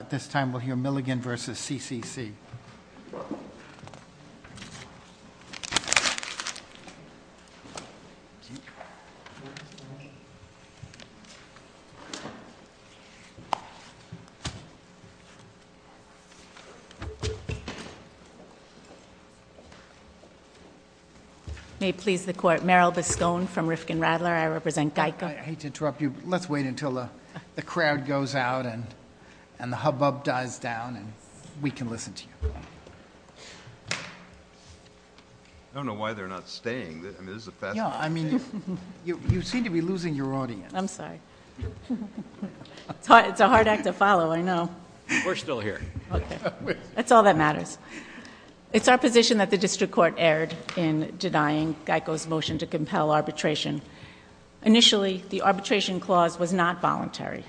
At this time, we'll hear Milligan v. CCC. May it please the Court, Merrill Biscone from Rifkin-Radler. I represent Geico. I hate to interrupt you, but let's wait until the crowd goes out and the hubbub dies down, and we can listen to you. I don't know why they're not staying. I mean, this is a fascinating thing. Yeah, I mean, you seem to be losing your audience. I'm sorry. It's a hard act to follow, I know. We're still here. Okay. That's all that matters. It's our position that the District Court erred in denying Geico's motion to compel arbitration. Initially, the arbitration clause was not voluntary.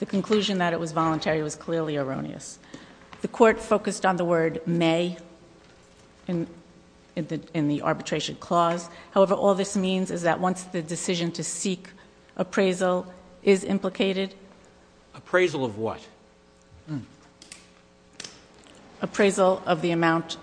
The conclusion that it was voluntary was clearly erroneous. The Court focused on the word may in the arbitration clause. However, all this means is that once the decision to seek appraisal is implicated Appraisal of what? Appraisal of the amount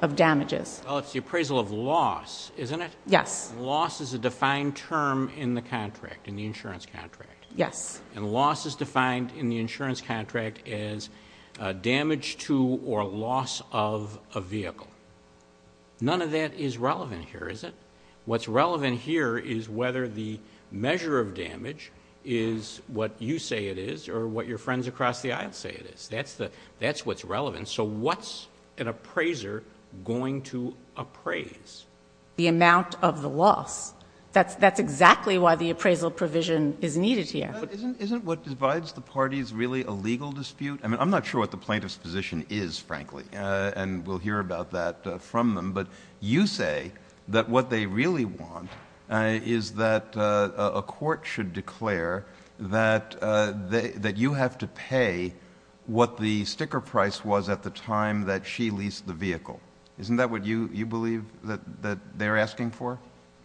of damages. Well, it's the appraisal of loss, isn't it? Yes. Because loss is a defined term in the contract, in the insurance contract. Yes. And loss is defined in the insurance contract as damage to or loss of a vehicle. None of that is relevant here, is it? What's relevant here is whether the measure of damage is what you say it is or what your friends across the aisle say it is. That's what's relevant. So what's an appraiser going to appraise? The amount of the loss. That's exactly why the appraisal provision is needed here. Isn't what divides the parties really a legal dispute? I mean, I'm not sure what the plaintiff's position is, frankly, and we'll hear about that from them. But you say that what they really want is that a court should declare that you have to pay what the sticker price was at the time that she leased the vehicle. Isn't that what you believe that they're asking for?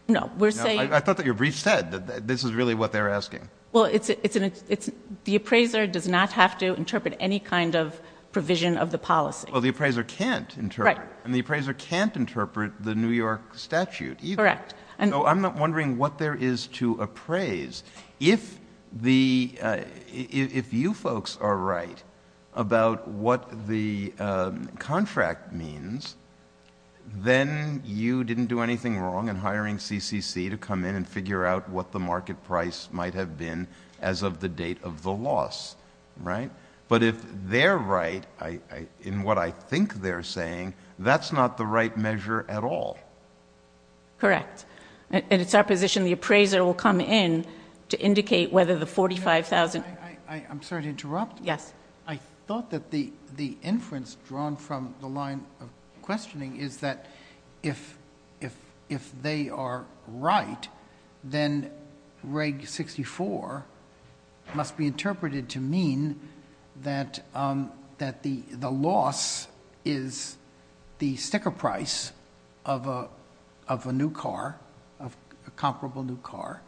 No. I thought that your brief said that this is really what they're asking. Well, the appraiser does not have to interpret any kind of provision of the policy. Well, the appraiser can't interpret. And the appraiser can't interpret the New York statute either. Correct. So I'm not wondering what there is to appraise. If you folks are right about what the contract means, then you didn't do anything wrong in hiring CCC to come in and figure out what the market price might have been as of the date of the loss, right? But if they're right in what I think they're saying, that's not the right measure at all. Correct. And it's our position the appraiser will come in to indicate whether the 45,000 I'm sorry to interrupt. Yes. I thought that the inference drawn from the line of questioning is that if they are right, then reg 64 must be interpreted to mean that the loss is the sticker price of a new car, a comparable new car,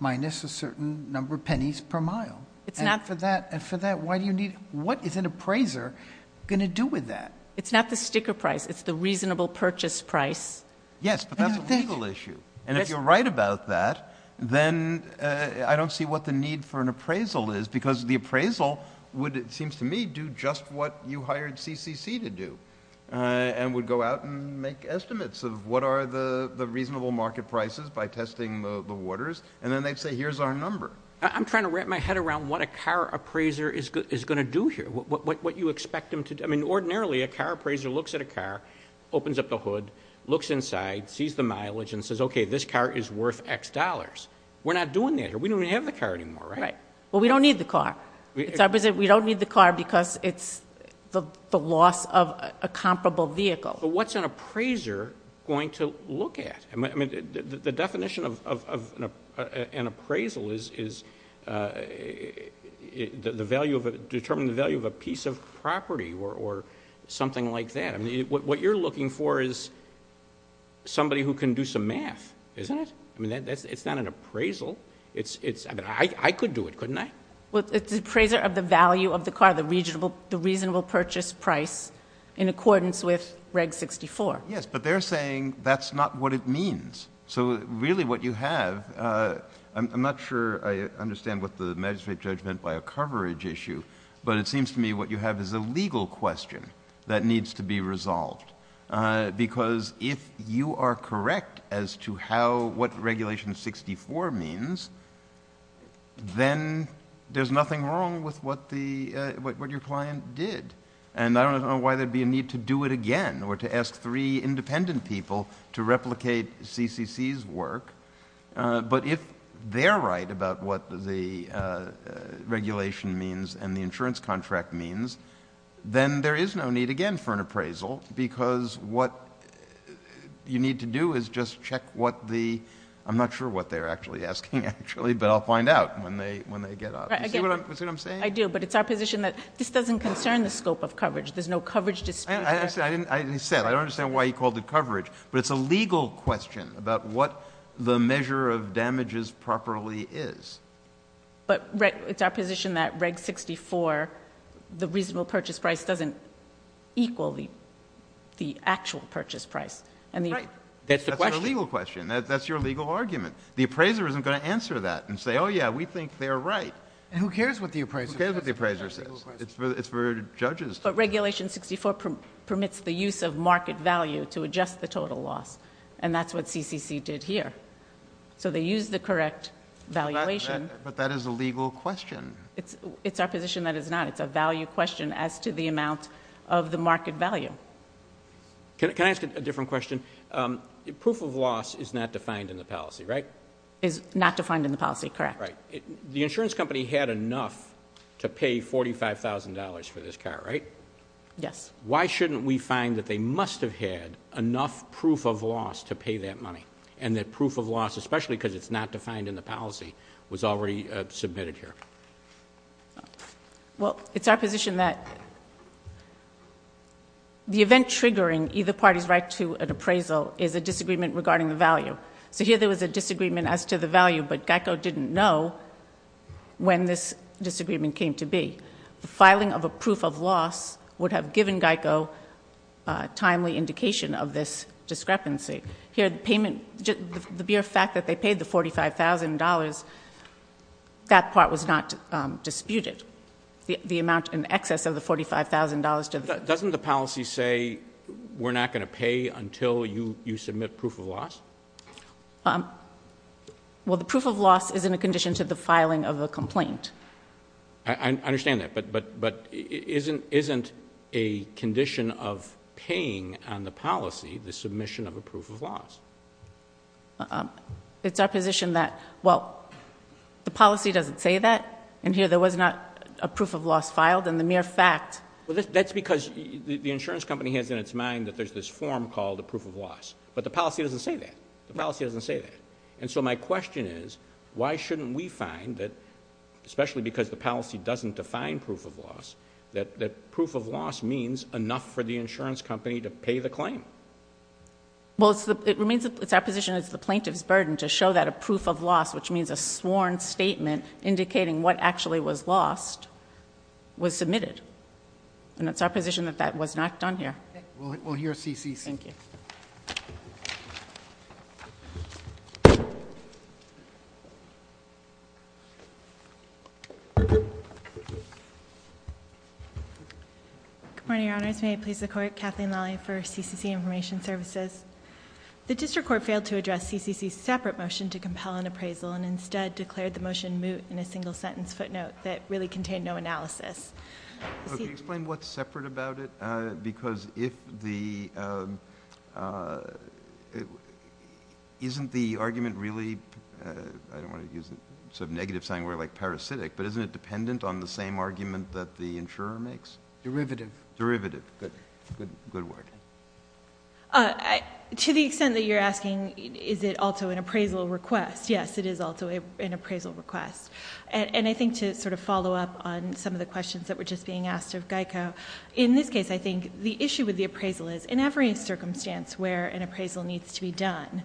minus a certain number of pennies per mile. And for that, why do you need What is an appraiser going to do with that? It's not the sticker price. It's the reasonable purchase price. Yes, but that's a legal issue. And if you're right about that, then I don't see what the need for an appraisal is, because the appraisal would, it seems to me, do just what you hired CCC to do and would go out and make estimates of what are the reasonable market prices by testing the waters. And then they'd say, here's our number. I'm trying to wrap my head around what a car appraiser is going to do here, what you expect them to do. I mean, ordinarily, a car appraiser looks at a car, opens up the hood, looks inside, sees the mileage, and says, okay, this car is worth X dollars. We're not doing that here. We don't even have the car anymore, right? Well, we don't need the car. We don't need the car because it's the loss of a comparable vehicle. But what's an appraiser going to look at? I mean, the definition of an appraisal is determine the value of a piece of property or something like that. What you're looking for is somebody who can do some math, isn't it? I mean, it's not an appraisal. I mean, I could do it, couldn't I? Well, it's appraiser of the value of the car, the reasonable purchase price in accordance with Reg 64. Yes, but they're saying that's not what it means. So really what you have, I'm not sure I understand what the magistrate judge meant by a coverage issue, but it seems to me what you have is a legal question that needs to be resolved because if you are correct as to what Regulation 64 means, then there's nothing wrong with what your client did. And I don't know why there'd be a need to do it again or to ask three independent people to replicate CCC's work. But if they're right about what the regulation means and the insurance contract means, then there is no need again for an appraisal because what you need to do is just check what the, I'm not sure what they're actually asking actually, but I'll find out when they get up. Do you see what I'm saying? I do, but it's our position that this doesn't concern the scope of coverage. There's no coverage dispute. As I said, I don't understand why he called it coverage, but it's a legal question about what the measure of damages properly is. But it's our position that Reg 64, the reasonable purchase price, doesn't equal the actual purchase price. Right, that's a legal question. That's your legal argument. The appraiser isn't going to answer that and say, oh yeah, we think they're right. And who cares what the appraiser says? Who cares what the appraiser says? It's for judges. But Regulation 64 permits the use of market value to adjust the total loss, and that's what CCC did here. So they used the correct valuation. But that is a legal question. It's our position that it's not. It's a value question as to the amount of the market value. Can I ask a different question? Proof of loss is not defined in the policy, right? Is not defined in the policy, correct. The insurance company had enough to pay $45,000 for this car, right? Yes. Why shouldn't we find that they must have had enough proof of loss to pay that money, and that proof of loss, especially because it's not defined in the policy, was already submitted here? Well, it's our position that the event triggering either party's right to an appraisal is a disagreement regarding the value. So here there was a disagreement as to the value, but GEICO didn't know when this disagreement came to be. The filing of a proof of loss would have given GEICO a timely indication of this discrepancy. Here the payment, the mere fact that they paid the $45,000, that part was not disputed, the amount in excess of the $45,000. Doesn't the policy say we're not going to pay until you submit proof of loss? Well, the proof of loss is in a condition to the filing of a complaint. I understand that, but isn't a condition of paying on the policy the submission of a proof of loss? It's our position that, well, the policy doesn't say that, and here there was not a proof of loss filed, and the mere fact. Well, that's because the insurance company has in its mind that there's this form called a proof of loss. But the policy doesn't say that. The policy doesn't say that. And so my question is, why shouldn't we find that, especially because the policy doesn't define proof of loss, that proof of loss means enough for the insurance company to pay the claim? Well, it remains our position it's the plaintiff's burden to show that a proof of loss, which means a sworn statement indicating what actually was lost, was submitted. And it's our position that that was not done here. We'll hear CCC. Thank you. Good morning, Your Honors. May I please the Court? Kathleen Lally for CCC Information Services. The district court failed to address CCC's separate motion to compel an appraisal and instead declared the motion moot in a single-sentence footnote that really contained no analysis. Can you explain what's separate about it? Because isn't the argument really, I don't want to use a negative sign word like parasitic, but isn't it dependent on the same argument that the insurer makes? Derivative. Derivative. Good word. To the extent that you're asking, is it also an appraisal request? Yes, it is also an appraisal request. And I think to sort of follow up on some of the questions that were just being asked of Geico, in this case I think the issue with the appraisal is in every circumstance where an appraisal needs to be done,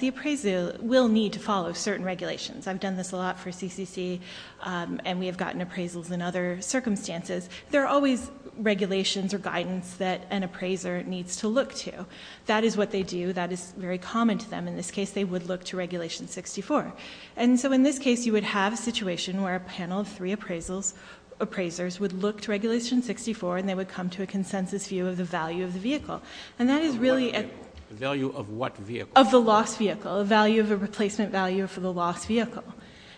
the appraisal will need to follow certain regulations. I've done this a lot for CCC, and we have gotten appraisals in other circumstances. There are always regulations or guidance that an appraiser needs to look to. That is what they do. That is very common to them. In this case, they would look to Regulation 64. And so in this case you would have a situation where a panel of three appraisers would look to Regulation 64 and they would come to a consensus view of the value of the vehicle. The value of what vehicle? Of the lost vehicle, the value of a replacement value for the lost vehicle.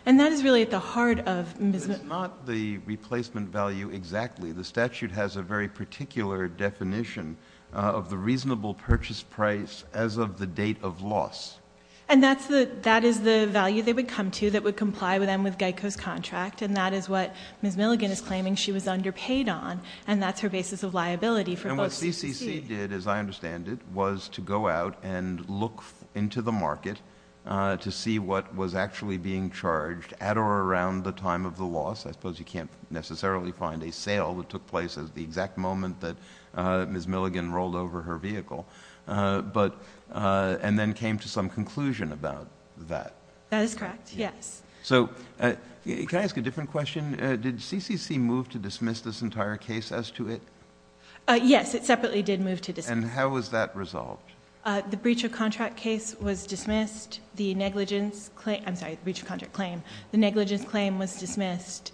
And that is really at the heart of MSMA. It's not the replacement value exactly. The statute has a very particular definition of the reasonable purchase price as of the date of loss. And that is the value they would come to that would comply with Geico's contract, and that is what Ms. Milligan is claiming she was underpaid on, and that's her basis of liability. And what CCC did, as I understand it, was to go out and look into the market to see what was actually being charged at or around the time of the loss. I suppose you can't necessarily find a sale that took place at the exact moment that Ms. Milligan rolled over her vehicle, and then came to some conclusion about that. That is correct, yes. So can I ask a different question? Did CCC move to dismiss this entire case as to it? Yes, it separately did move to dismiss. And how was that resolved? The breach of contract case was dismissed. I'm sorry, the breach of contract claim. The negligence claim was dismissed.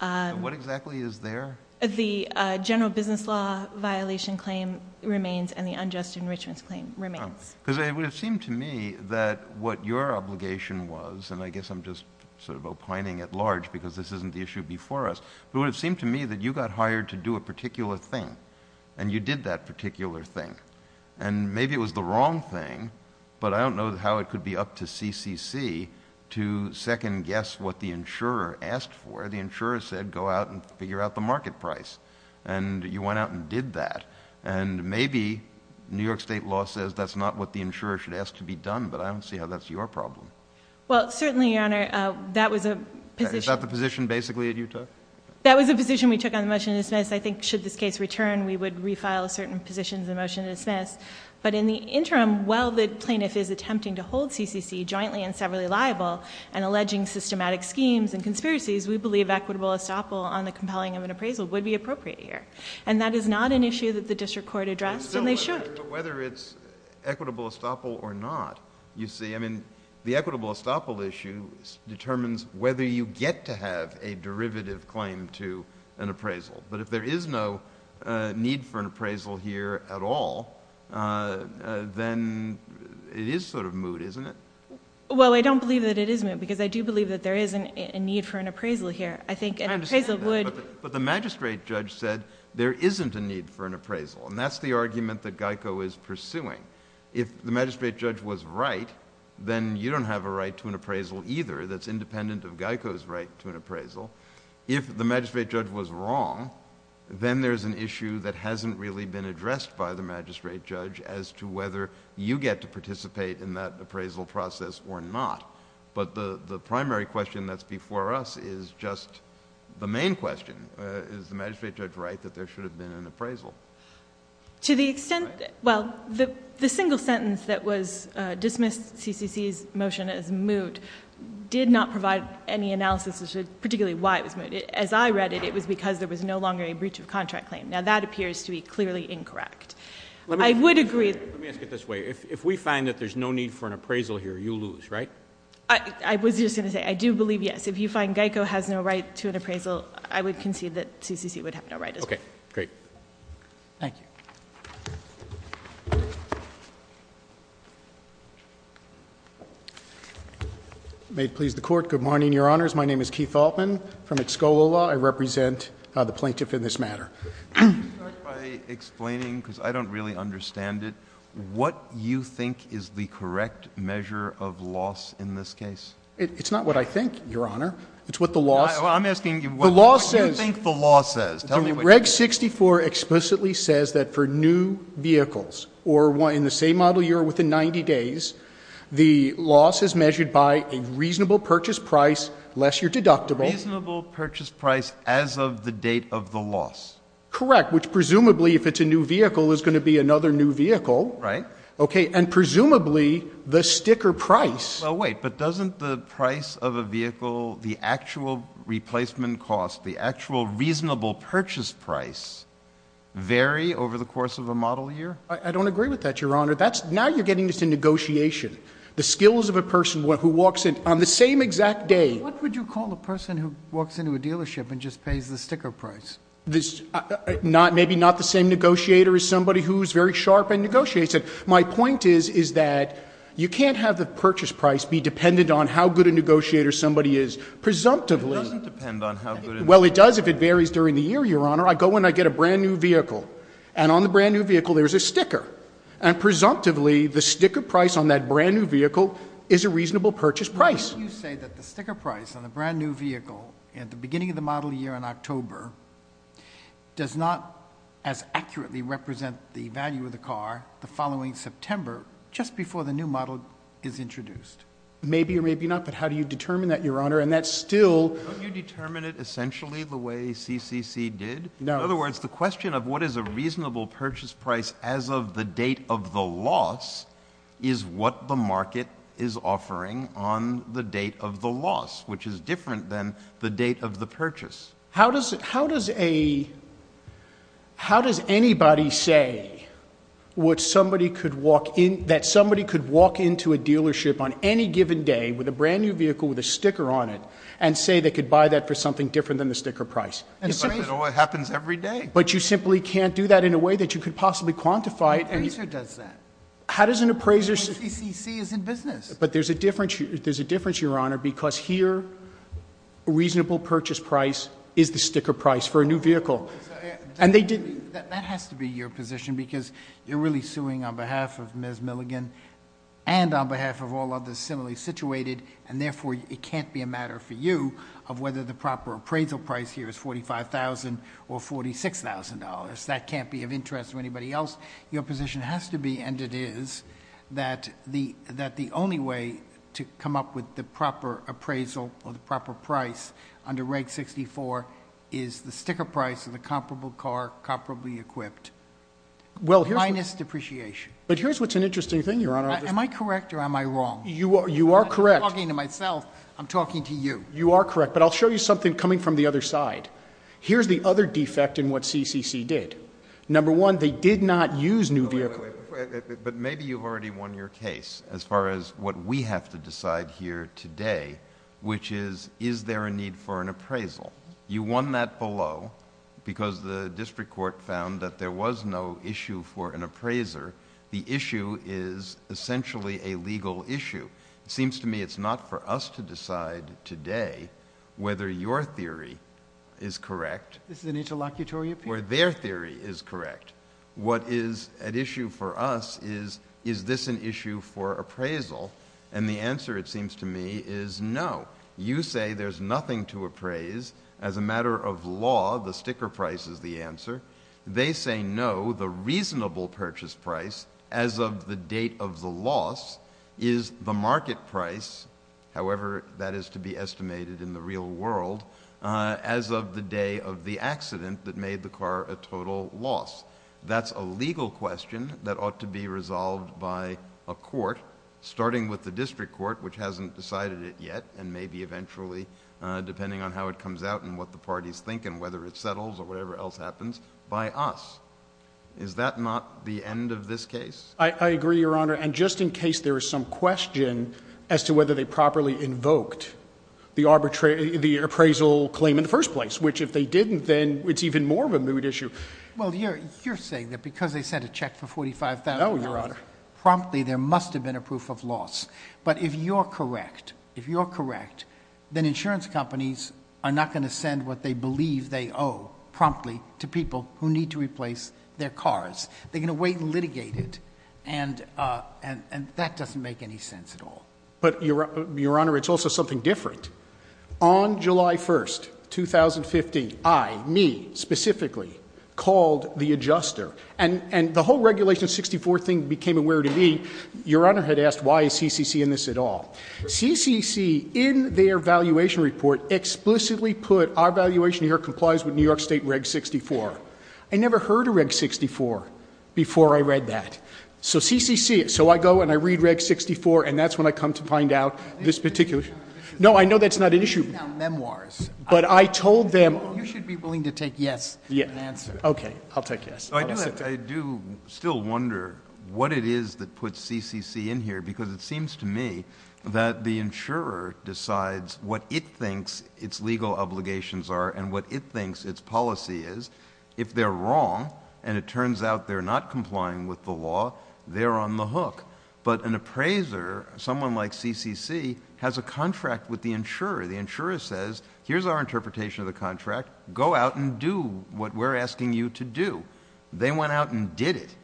What exactly is there? The general business law violation claim remains, and the unjust enrichments claim remains. Because it would have seemed to me that what your obligation was, and I guess I'm just sort of opining at large because this isn't the issue before us, but it would have seemed to me that you got hired to do a particular thing, and you did that particular thing. And maybe it was the wrong thing, but I don't know how it could be up to CCC to second guess what the insurer asked for. The insurer said go out and figure out the market price. And you went out and did that. And maybe New York State law says that's not what the insurer should ask to be done, but I don't see how that's your problem. Well, certainly, Your Honor, that was a position... Is that the position basically that you took? That was a position we took on the motion to dismiss. I think should this case return, we would refile certain positions in the motion to dismiss. But in the interim, while the plaintiff is attempting to hold CCC jointly and severally liable and alleging systematic schemes and conspiracies, we believe equitable estoppel on the compelling of an appraisal would be appropriate here. And that is not an issue that the district court addressed, and they should. But whether it's equitable estoppel or not, you see, I mean, the equitable estoppel issue determines whether you get to have a derivative claim to an appraisal. But if there is no need for an appraisal here at all, then it is sort of moot, isn't it? Well, I don't believe that it is moot because I do believe that there is a need for an appraisal here. I think an appraisal would... I understand that, but the magistrate judge said there isn't a need for an appraisal, and that's the argument that Geico is pursuing. If the magistrate judge was right, then you don't have a right to an appraisal either that's independent of Geico's right to an appraisal. If the magistrate judge was wrong, then there's an issue that hasn't really been addressed by the magistrate judge as to whether you get to participate in that appraisal process or not. But the primary question that's before us is just the main question. Is the magistrate judge right that there should have been an appraisal? To the extent... well, the single sentence that was dismissed CCC's motion as moot did not provide any analysis as to particularly why it was moot. As I read it, it was because there was no longer a breach of contract claim. Now, that appears to be clearly incorrect. I would agree... Let me ask it this way. If we find that there's no need for an appraisal here, you lose, right? I was just going to say I do believe yes. If you find Geico has no right to an appraisal, I would concede that CCC would have no right as well. Okay. Great. Thank you. May it please the Court. Good morning, Your Honors. My name is Keith Altman from Escola Law. I represent the plaintiff in this matter. Can you start by explaining, because I don't really understand it, what you think is the correct measure of loss in this case? It's not what I think, Your Honor. It's what the law says. I'm asking you what you think the law says. Tell me what you think. The law says that for new vehicles or in the same model year within 90 days, the loss is measured by a reasonable purchase price, less your deductible... A reasonable purchase price as of the date of the loss. Correct, which presumably, if it's a new vehicle, is going to be another new vehicle. Right. Okay. And presumably, the sticker price... I don't agree with that, Your Honor. That's... now you're getting into negotiation. The skills of a person who walks in on the same exact day... What would you call a person who walks into a dealership and just pays the sticker price? Maybe not the same negotiator as somebody who's very sharp and negotiates it. My point is, is that you can't have the purchase price be dependent on how good a negotiator somebody is. Presumptively... It doesn't depend on how good a negotiator... Well, it does if it varies during the year, Your Honor. I go and I get a brand-new vehicle, and on the brand-new vehicle, there's a sticker. And presumptively, the sticker price on that brand-new vehicle is a reasonable purchase price. Why don't you say that the sticker price on the brand-new vehicle at the beginning of the model year in October does not as accurately represent the value of the car the following September, just before the new model is introduced? Maybe or maybe not, but how do you determine that, Your Honor? And that's still... Don't you determine it essentially the way CCC did? No. In other words, the question of what is a reasonable purchase price as of the date of the loss is what the market is offering on the date of the loss, which is different than the date of the purchase. How does anybody say that somebody could walk into a dealership on any given day with a brand-new vehicle with a sticker on it and say they could buy that for something different than the sticker price? It happens every day. But you simply can't do that in a way that you could possibly quantify it. No appraiser does that. How does an appraiser... CCC is in business. But there's a difference, Your Honor, because here, a reasonable purchase price is the sticker price for a new vehicle. That has to be your position because you're really suing on behalf of Ms. Milligan and on behalf of all others similarly situated, and therefore it can't be a matter for you of whether the proper appraisal price here is $45,000 or $46,000. That can't be of interest to anybody else. Your position has to be, and it is, that the only way to come up with the proper appraisal or the proper price under Reg 64 is the sticker price of the comparable car, comparably equipped, minus depreciation. But here's what's an interesting thing, Your Honor... Am I correct or am I wrong? You are correct. I'm not talking to myself. I'm talking to you. You are correct. But I'll show you something coming from the other side. Here's the other defect in what CCC did. Number one, they did not use new vehicles... Wait, wait, wait. But maybe you've already won your case as far as what we have to decide here today, which is, is there a need for an appraisal? You won that below because the district court found that there was no issue for an appraiser. The issue is essentially a legal issue. It seems to me it's not for us to decide today whether your theory is correct... This is an interlocutory appeal.... or their theory is correct. What is at issue for us is, is this an issue for appraisal? And the answer, it seems to me, is no. You say there's nothing to appraise. As a matter of law, the sticker price is the answer. They say no. The reasonable purchase price, as of the date of the loss, is the market price... however that is to be estimated in the real world... as of the day of the accident that made the car a total loss. That's a legal question that ought to be resolved by a court... depending on how it comes out and what the parties think and whether it settles or whatever else happens... by us. Is that not the end of this case? I agree, Your Honor, and just in case there is some question... as to whether they properly invoked the appraisal claim in the first place... which if they didn't, then it's even more of a mood issue. Well, you're saying that because they sent a check for $45,000... No, Your Honor.... promptly, there must have been a proof of loss. But, if you're correct, if you're correct... then insurance companies are not going to send what they believe they owe promptly... to people who need to replace their cars. They're going to wait and litigate it. And, that doesn't make any sense at all. But, Your Honor, it's also something different. On July 1st, 2015, I, me, specifically, called the adjuster. And, the whole Regulation 64 thing became aware to me. Your Honor had asked, why is CCC in this at all? CCC, in their valuation report, explicitly put, our valuation here complies with New York State Reg 64. I never heard of Reg 64 before I read that. So, CCC... so, I go and I read Reg 64, and that's when I come to find out this particular... No, I know that's not an issue. Memoirs. But, I told them... You should be willing to take yes, and answer. Okay. I'll take yes. I do still wonder what it is that puts CCC in here. Because, it seems to me that the insurer decides what it thinks its legal obligations are and what it thinks its policy is. If they're wrong, and it turns out they're not complying with the law, they're on the hook. But, an appraiser, someone like CCC, has a contract with the insurer. The insurer says, here's our interpretation of the contract. Go out and do what we're asking you to do. They went out and did it.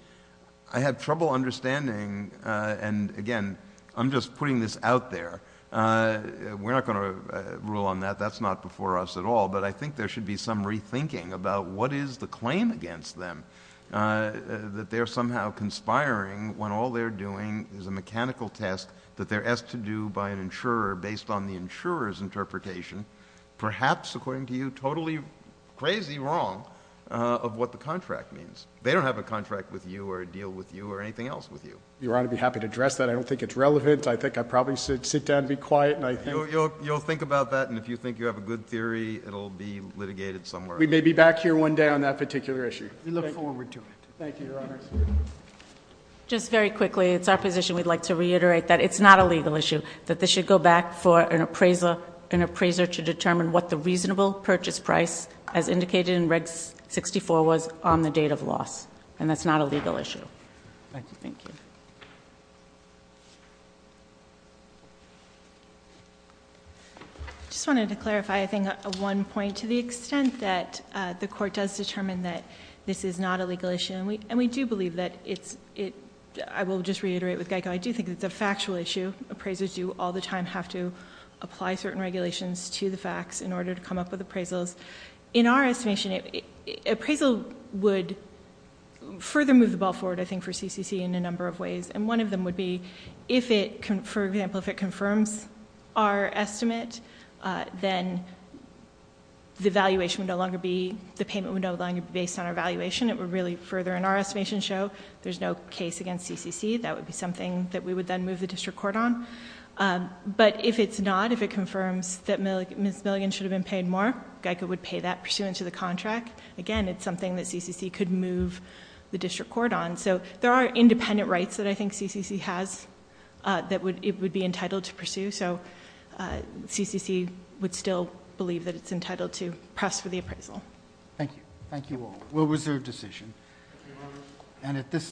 I had trouble understanding... And, again, I'm just putting this out there. We're not going to rule on that. That's not before us at all. But, I think there should be some rethinking about what is the claim against them. That they're somehow conspiring when all they're doing is a mechanical test that they're asked to do by an insurer, based on the insurer's interpretation. Perhaps, according to you, totally crazy wrong of what the contract means. They don't have a contract with you, or a deal with you, or anything else with you. Your Honor, I'd be happy to address that. I don't think it's relevant. I think I probably should sit down and be quiet. You'll think about that, and if you think you have a good theory, it'll be litigated somewhere. We may be back here one day on that particular issue. We look forward to it. Thank you, Your Honor. Just very quickly, it's our position we'd like to reiterate that it's not a legal issue. That this should go back for an appraiser to determine what the reasonable purchase price, as indicated in Reg 64, was on the date of loss. And that's not a legal issue. Thank you. Thank you. I just wanted to clarify, I think, one point. To the extent that the court does determine that this is not a legal issue, and we do believe that it's, I will just reiterate with Geico, I do think it's a factual issue. Appraisers do all the time have to apply certain regulations to the facts in order to come up with appraisals. In our estimation, appraisal would further move the ball forward, I think, for CCC in a number of ways. And one of them would be, for example, if it confirms our estimate, then the payment would no longer be based on our valuation. It would really further, in our estimation, show there's no case against CCC. That would be something that we would then move the district court on. But if it's not, if it confirms that Ms. Milligan should have been paid more, Geico would pay that pursuant to the contract. Again, it's something that CCC could move the district court on. So there are independent rights that I think CCC has that it would be entitled to pursue. So CCC would still believe that it's entitled to press for the appraisal. Thank you. We'll reserve decision. Thank you, Your Honor.